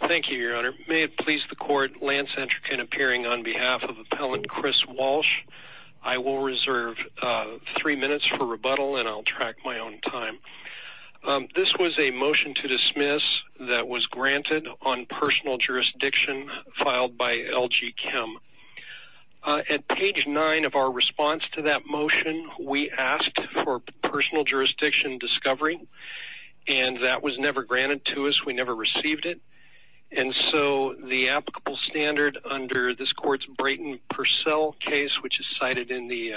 Thank you your honor. May it please the court Lance Entrecain appearing on behalf of appellant Chris Walsh. I will reserve three minutes for rebuttal and I'll track my own time. This was a motion to dismiss that was granted on personal jurisdiction filed by LG Chem. At page nine of our response to that motion we asked for personal jurisdiction discovery and that was never granted to us. We never received it and so the applicable standard under this court's Brayton Purcell case which is cited in the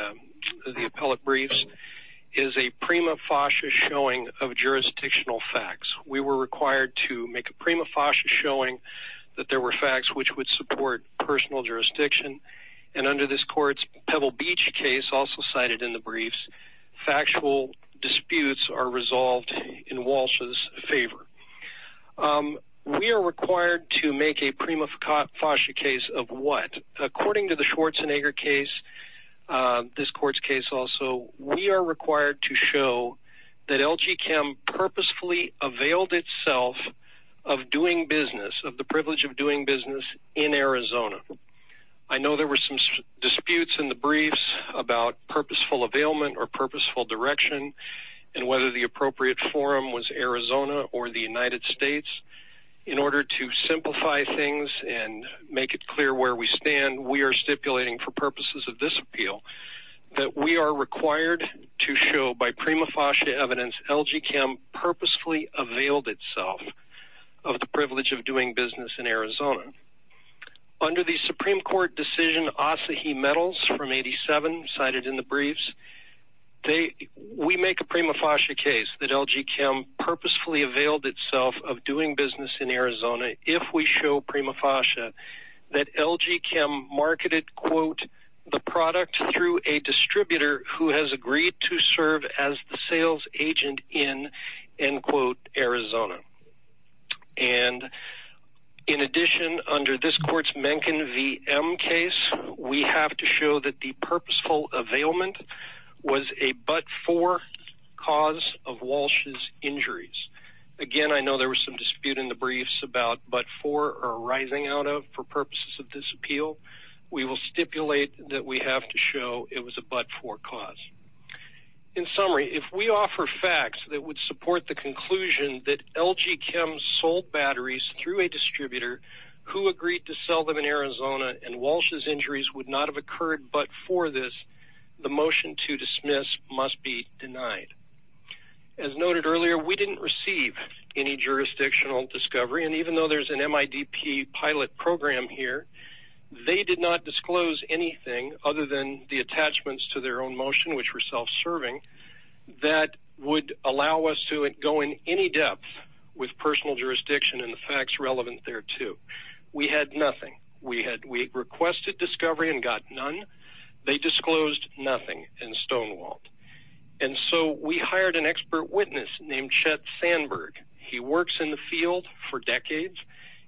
appellate briefs is a prima facie showing of jurisdictional facts. We were required to make a prima facie showing that there were facts which would support personal jurisdiction and under this courts Pebble Beach case also cited in the briefs factual disputes are Walsh's favor. We are required to make a prima facie case of what according to the Schwarzenegger case this court's case also we are required to show that LG Chem purposefully availed itself of doing business of the privilege of doing business in Arizona. I know there were some disputes in the briefs about purposeful availment or purposeful direction and whether the appropriate forum was Arizona or the United States. In order to simplify things and make it clear where we stand we are stipulating for purposes of this appeal that we are required to show by prima facie evidence LG Chem purposefully availed itself of the privilege of doing business in Arizona. Under the Supreme Court decision Asahi metals from 87 cited in the briefs they we make a prima facie case that LG Chem purposefully availed itself of doing business in Arizona if we show prima facie that LG Chem marketed quote the product through a distributor who has agreed to serve as the sales agent in end quote Arizona. And in addition under this courts Mencken VM case we have to show that the purposeful of Walsh's injuries. Again I know there was some dispute in the briefs about but for or arising out of for purposes of this appeal we will stipulate that we have to show it was a but for cause. In summary if we offer facts that would support the conclusion that LG Chem sold batteries through a distributor who agreed to sell them in Arizona and Walsh's injuries would not have occurred but for this the motion to dismiss must be denied. As noted earlier we didn't receive any jurisdictional discovery and even though there's an MIDP pilot program here they did not disclose anything other than the attachments to their own motion which were self-serving that would allow us to it go in any depth with personal jurisdiction and the facts relevant thereto. We had nothing we requested discovery and got none. They disclosed nothing in Stonewalt and so we hired an expert witness named Chet Sandberg. He works in the field for decades.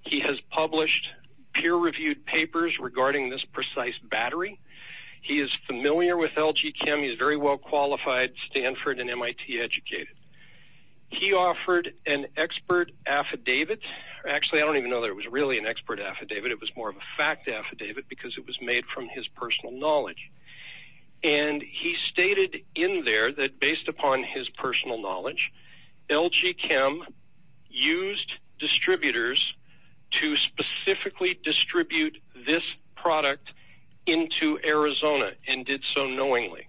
He has published peer-reviewed papers regarding this precise battery. He is familiar with LG Chem. He's very well qualified Stanford and MIT educated. He offered an expert affidavit. Actually I don't even know that it was really an expert affidavit because it was made from his personal knowledge and he stated in there that based upon his personal knowledge LG Chem used distributors to specifically distribute this product into Arizona and did so knowingly.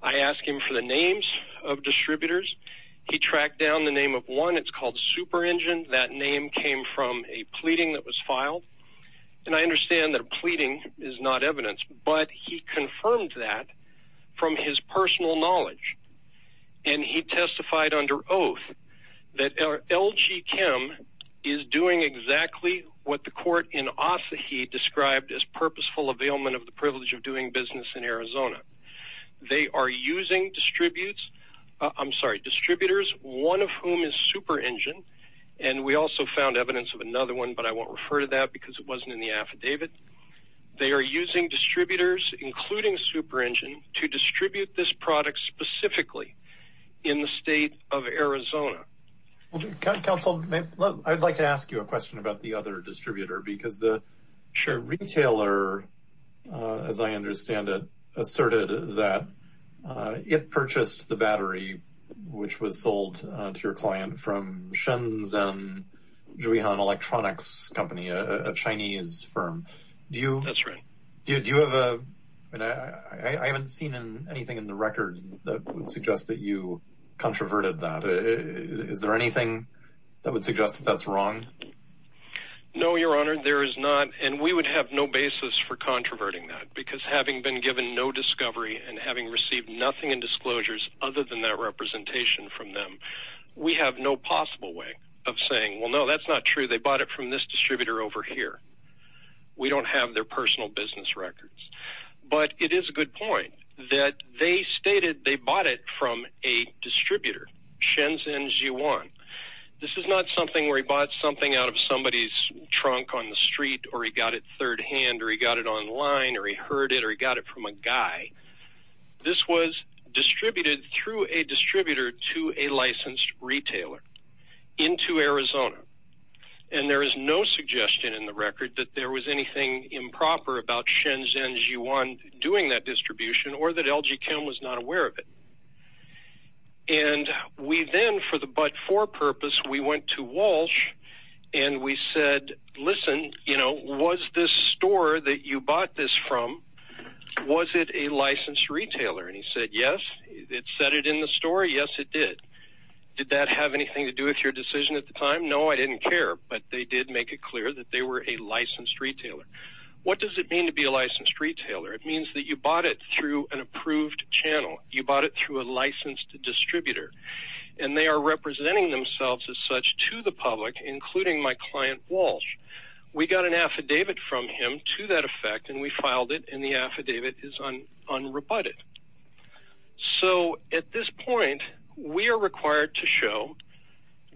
I asked him for the names of distributors. He tracked down the name of one it's called Super Engine that name came from a pleading that was filed and I understand that pleading is not evidence but he confirmed that from his personal knowledge and he testified under oath that LG Chem is doing exactly what the court in Ossahee described as purposeful availment of the privilege of doing business in Arizona. They are using distributes I'm sorry distributors one of whom is Super Engine and we also found evidence of another one but I won't refer to that because it wasn't in the affidavit. They are using distributors including Super Engine to distribute this product specifically in the state of Arizona. Councilman I'd like to ask you a question about the other distributor because the retailer as I understand it asserted that it purchased the battery which was sold to your client from Shenzhen electronics company a Chinese firm. That's right. I haven't seen anything in the records that would suggest that you controverted that. Is there anything that would suggest that's wrong? No your honor there is not and we would have no basis for controverting that because having been given no discovery and having received nothing in disclosures other than that possible way of saying well no that's not true they bought it from this distributor over here. We don't have their personal business records but it is a good point that they stated they bought it from a distributor Shenzhen G1. This is not something where he bought something out of somebody's trunk on the street or he got it third-hand or he got it online or he heard it or he got it from a guy. This was distributed through a distributor to a licensed retailer into Arizona and there is no suggestion in the record that there was anything improper about Shenzhen G1 doing that distribution or that LG Chem was not aware of it and we then for the but for purpose we went to Walsh and we said listen you know was this store that you bought this from was it a licensed Did that have anything to do with your decision at the time? No I didn't care but they did make it clear that they were a licensed retailer. What does it mean to be a licensed retailer? It means that you bought it through an approved channel. You bought it through a licensed distributor and they are representing themselves as such to the public including my client Walsh. We got an affidavit from him to that effect and we filed it and the affidavit is unrebutted. So at this point we are required to show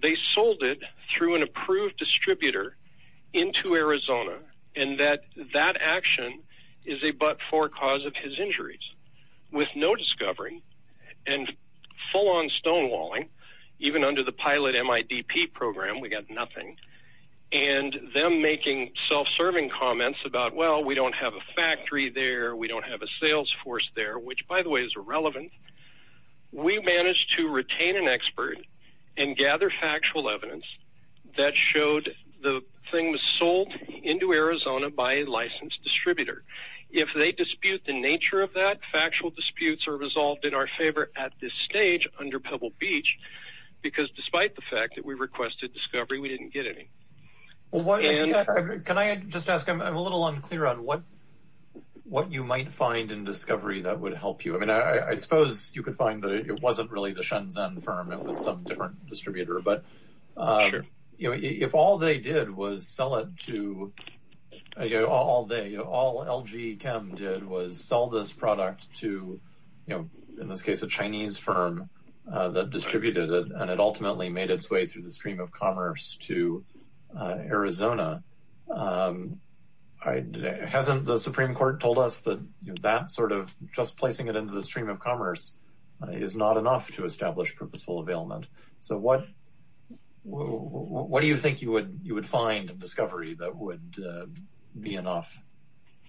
they sold it through an approved distributor into Arizona and that that action is a but-for cause of his injuries with no discovery and full on stonewalling even under the pilot MIDP program we got nothing and them making self-serving comments about well we don't have a factory there we don't have a sales force there which by the way is irrelevant. We managed to retain an expert and gather factual evidence that showed the thing was sold into Arizona by a licensed distributor. If they dispute the nature of that factual disputes are resolved in our favor at this stage under Pebble Beach because despite the fact that we requested discovery we didn't get any. Can I just ask I'm a little unclear on what what you might find in discovery that would help you I mean I suppose you could find that it wasn't really the firm it was some different distributor but you know if all they did was sell it to you all day you know all LG Chem did was sell this product to you know in this case a Chinese firm that distributed it and it ultimately made its way through the stream of commerce to Arizona. Hasn't the Supreme Court told us that that sort of just placing it into the stream of commerce is not enough to establish purposeful availment? So what what do you think you would you would find in discovery that would be enough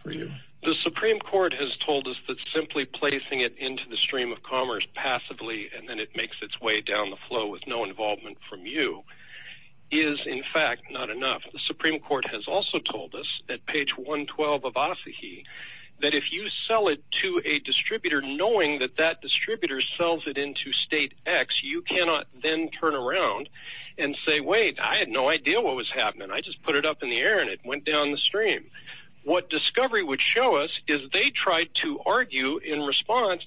for you? The Supreme Court has told us that simply placing it into the stream of commerce passively and then it makes its way down the flow with no involvement from you is in fact not enough. The Supreme Court has also told us that page 112 of Asahi that if you sell it to a distributor knowing that that distributor sells it into state X you cannot then turn around and say wait I had no idea what was happening I just put it up in the air and it went down the stream. What discovery would show us is they tried to argue in response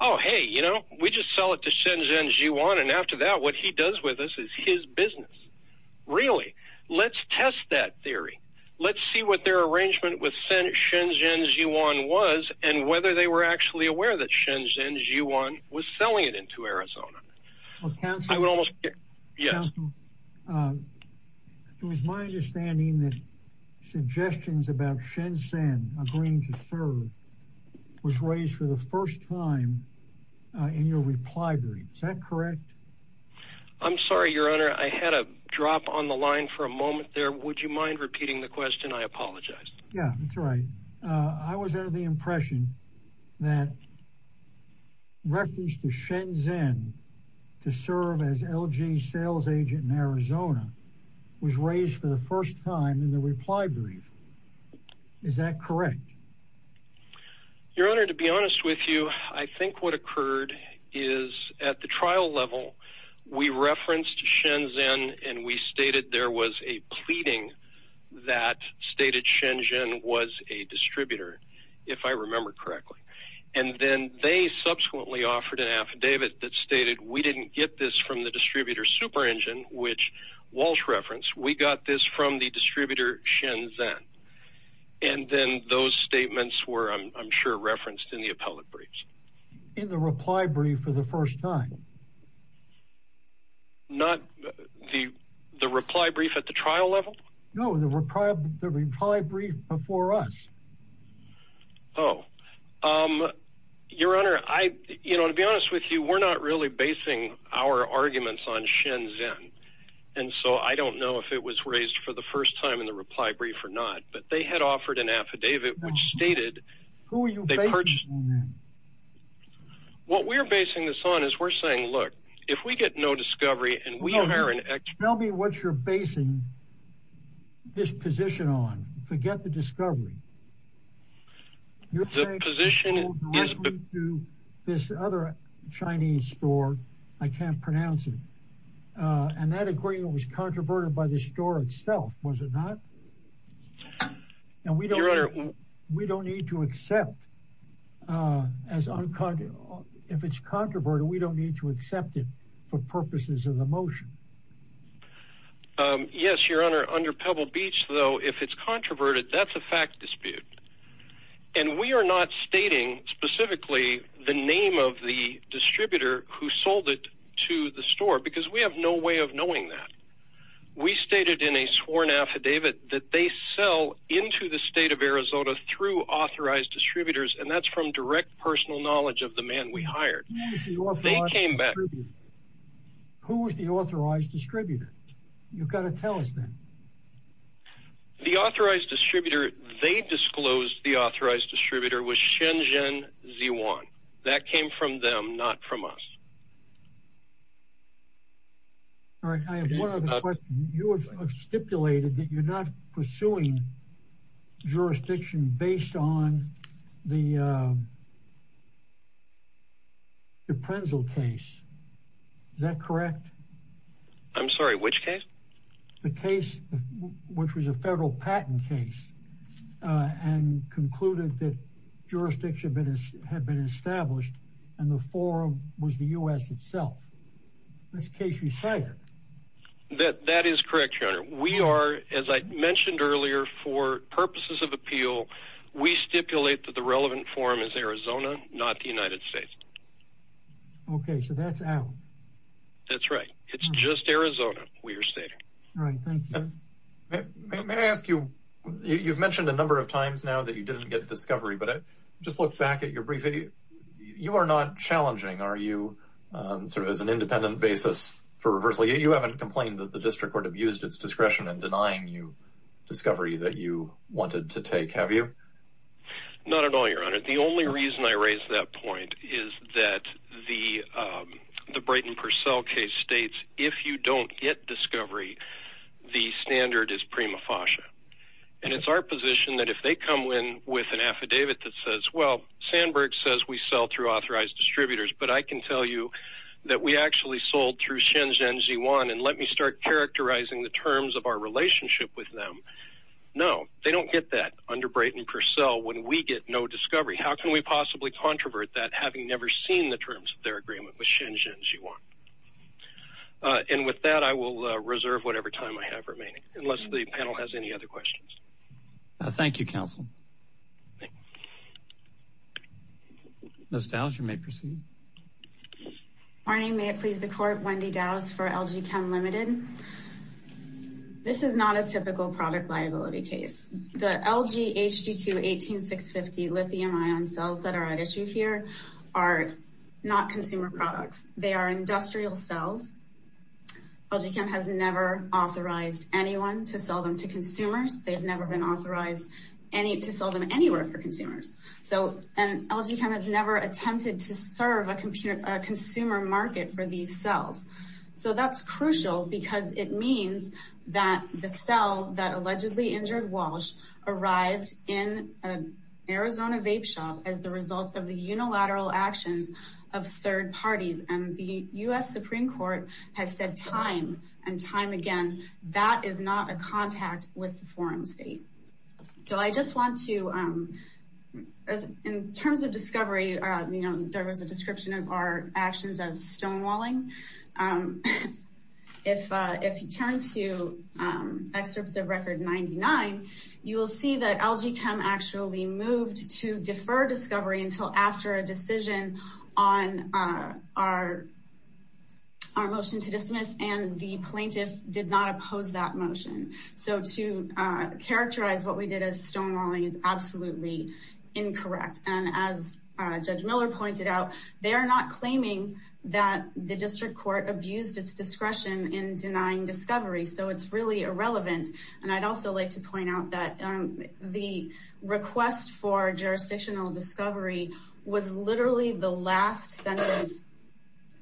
oh hey you know we just sell it to Shenzhen Zhiyuan and after that what he does with us is his business. Really let's test that theory let's see what their arrangement with Shenzhen Zhiyuan was and whether they were actually aware that Shenzhen Zhiyuan was selling it into Arizona. It was my understanding that suggestions about Shenzhen agreeing to serve was raised for the first time in your reply brief. Is that correct? I'm sorry your honor I had a drop on the line for a moment there would you mind repeating the question I apologize. Yeah that's right I was under the impression that reference to Shenzhen to serve as LG sales agent in Arizona was raised for the first time in the reply brief. Is that correct? Your honor to be honest with you I think what occurred is at the trial level we referenced Shenzhen and we stated there was a pleading that stated Shenzhen was a distributor if I remember correctly and then they subsequently offered an affidavit that stated we didn't get this from the distributor Super Engine which Walsh referenced we got this from the distributor Shenzhen and then those statements were I'm sure referenced in the appellate briefs. In the reply brief for the first time? Not the the reply brief at the trial level? No the reply brief before us. Oh your honor I you know to be honest with you we're not really basing our arguments on Shenzhen and so I don't know if it was raised for the first time in the reply brief or not but they had offered an affidavit which stated. Who are you basing this on? What we are basing this on is we're saying look if we get no discovery and we are an expert. Tell me what you're basing this position on. Forget the discovery. The position is. This other Chinese store I can't pronounce it and that agreement was controverted by the store itself was it not? Your honor. We don't need to accept as if it's controverted we don't need to accept it for purposes of the motion. Yes your honor under Pebble Beach though if it's controverted that's a fact dispute and we are not stating specifically the name of the distributor who sold it to the store because we have no way of knowing that. We stated in a sworn affidavit that they sell into the state of Arizona through authorized distributors and that's from direct personal knowledge of the man we hired. They came back. Who was the authorized distributor? You've got to tell us then. The authorized distributor they disclosed the authorized distributor was Shenzhen Ziwan. That came from them not from us. All right I have one other question. You have stipulated that you're not pursuing jurisdiction based on the D'Aprenzel case. Is that correct? I'm sorry which case? The case which was a federal patent case and concluded that jurisdiction had been established and the forum was the U.S. itself. That's case earlier for purposes of appeal we stipulate that the relevant forum is Arizona not the United States. Okay so that's out. That's right it's just Arizona we are stating. May I ask you you've mentioned a number of times now that you didn't get discovery but I just look back at your brief video you are not challenging are you sort of as an independent basis for reversal you haven't complained that the district court abused its discretion and denying you discovery that you wanted to take have you? Not at all your honor the only reason I raised that point is that the Brayton Purcell case states if you don't get discovery the standard is prima facie and it's our position that if they come in with an affidavit that says well Sandberg says we sell through authorized distributors but I can tell you that we actually sold through Shenzhen Ziwan and let me start characterizing the terms of our relationship with them. No they don't get that under Brayton Purcell when we get no discovery how can we possibly controvert that having never seen the terms of their agreement with Shenzhen Ziwan. And with that I will reserve whatever time I have remaining unless the panel has any other questions. Thank you counsel. Ms. Dowser may proceed. Morning may it please the court Wendy Dowse for LG Chem Limited. This is not a typical product liability case. The LG HD2 18650 lithium-ion cells that are at issue here are not consumer products they are industrial cells. LG Chem has never authorized anyone to sell them to consumers they have never been authorized any to sell them anywhere for consumers so LG Chem has never attempted to serve a consumer market for these cells. So that's crucial because it means that the cell that allegedly injured Walsh arrived in an Arizona vape shop as the result of the unilateral actions of third parties and the US Supreme Court has said time and time again that is not a contact with you know there was a description of our actions as stonewalling. If you turn to excerpts of record 99 you will see that LG Chem actually moved to defer discovery until after a decision on our motion to dismiss and the plaintiff did not oppose that motion. So to characterize what we did as stone pointed out they are not claiming that the district court abused its discretion in denying discovery so it's really irrelevant and I'd also like to point out that the request for jurisdictional discovery was literally the last sentence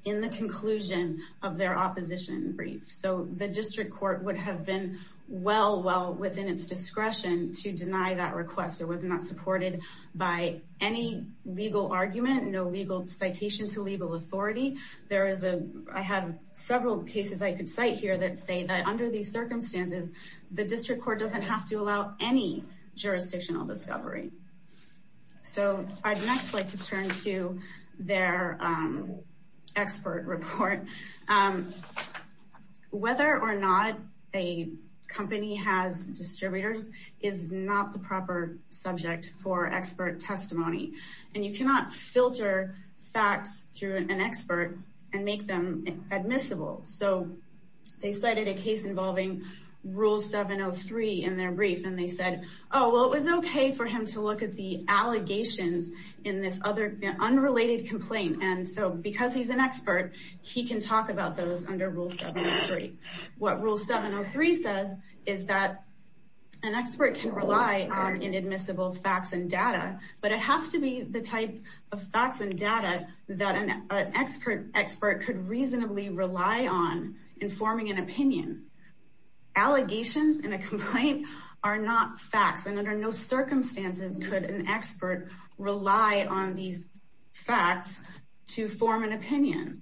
in the conclusion of their opposition brief so the district court would have been well well within its discretion to deny that request it was not supported by any legal argument no legal citation to legal authority there is a I have several cases I could cite here that say that under these circumstances the district court doesn't have to allow any jurisdictional discovery. So I'd next like to turn to their expert report whether or not a company has distributors is not the proper subject for expert testimony and you cannot filter facts through an expert and make them admissible so they cited a case involving rule 703 in their brief and they said oh well it was okay for him to look at the allegations in this other unrelated complaint and so because he's an expert he can talk about those under rule 703. What rule 703 says is that an expert can rely on inadmissible facts and data but it has to be the type of facts and data that an expert expert could reasonably rely on in forming an opinion. Allegations in a complaint are not facts and under no circumstances could an expert rely on these facts to form an opinion.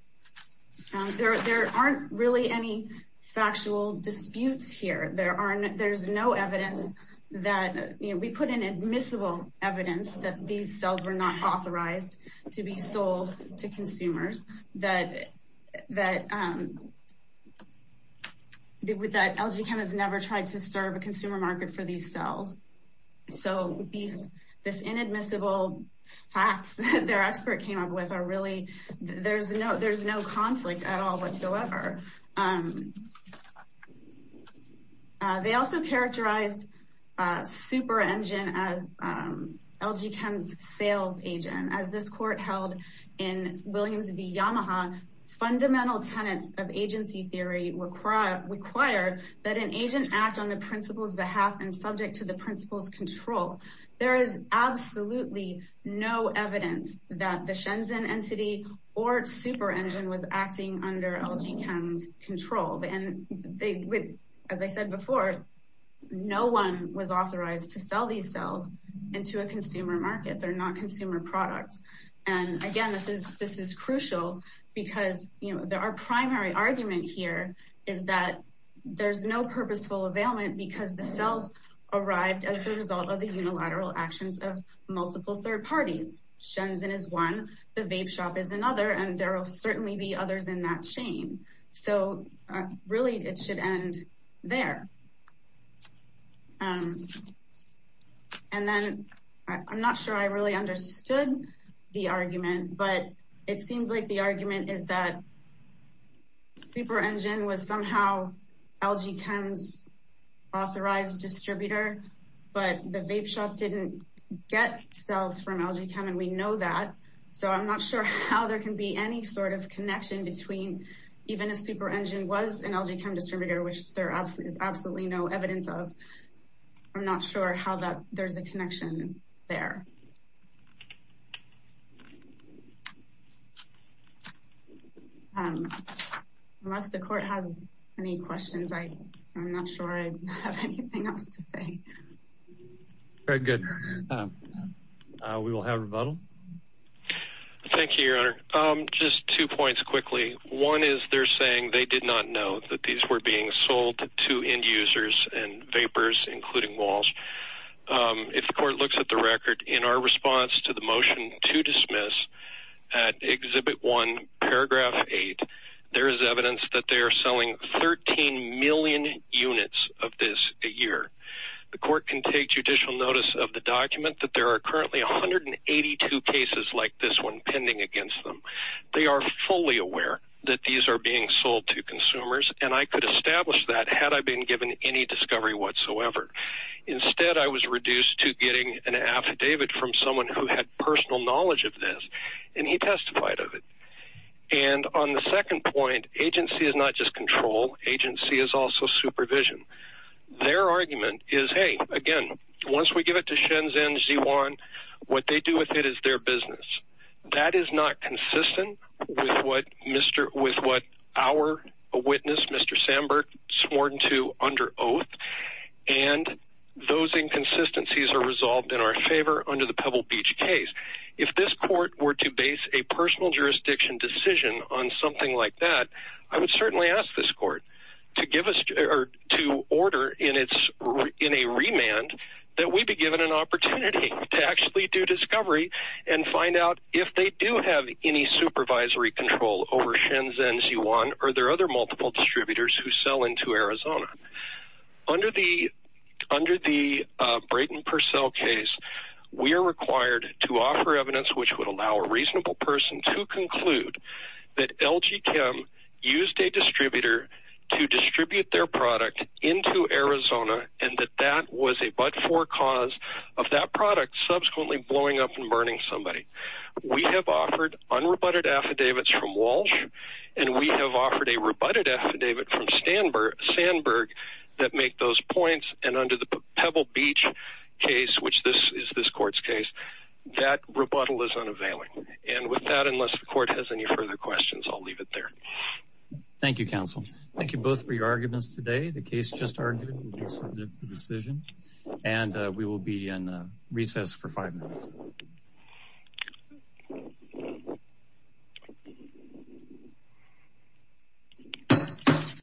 There aren't really any factual disputes here there aren't there's no evidence that you know we put in admissible evidence that these cells were not authorized to be sold to consumers that LG Chem has never tried to serve a consumer market for these cells so these this inadmissible facts that their expert came up with are really there's no there's no conflict at all whatsoever they also characterized super engine as LG Chem's sales agent as this court held in Williams v. Yamaha fundamental tenets of agency theory require required that an agent act on the principal's behalf and subject to the principal's control there is absolutely no evidence that the Shenzhen entity or super engine was acting under LG Chem's control and they as I said before no one was authorized to sell these cells into a consumer market they're not consumer products and again this is this is crucial because you know there are primary argument here is that there's no purposeful availment because the cells arrived as the result of the unilateral actions of multiple third parties Shenzhen is one the vape shop is another and there will certainly be others in that chain so really it should end there and then I'm not sure I really understood the argument but it seems like the argument is that super engine was somehow LG Chem's authorized distributor but the vape shop didn't get cells from LG Chem and we know that so I'm not sure how there can be any sort of connection between even a super engine was an LG Chem distributor which there absolutely no evidence of I'm not sure how that there's a connection there unless the court has any questions I'm not sure I have anything else to say very good we will have rebuttal thank you just two points quickly one is they're saying they did not know that these were being sold to end-users and the motion to dismiss at exhibit 1 paragraph 8 there is evidence that they are selling 13 million units of this a year the court can take judicial notice of the document that there are currently 182 cases like this one pending against them they are fully aware that these are being sold to consumers and I could establish that had I been given any discovery whatsoever instead I was reduced to getting an affidavit from someone who had personal knowledge of this and he testified of it and on the second point agency is not just control agency is also supervision their argument is hey again once we give it to Shenzhen Z1 what they do with it is their business that is not consistent with what mr. with what our witness mr. Sandberg sworn to under oath and those inconsistencies are resolved in our favor under the Pebble Beach case if this court were to base a personal jurisdiction decision on something like that I would certainly ask this court to give us to order in its in a remand that we be given an opportunity to actually do discovery and find out if they do have any supervisory control over Shenzhen Z1 or their other multiple distributors who sell into Arizona under the under the Braden Purcell case we are required to offer evidence which would allow a reasonable person to conclude that LG Kim used a distributor to distribute their product into Arizona and that that was a but-for cause of that product subsequently blowing up and burning somebody we have offered unrebutted affidavits from Walsh and we have offered a rebutted affidavit from Stamberg Sandberg that make those points and under the Pebble Beach case which this is this court's case that rebuttal is unavailable and with that unless the court has any further questions I'll leave it there Thank You counsel thank you both for your arguments today the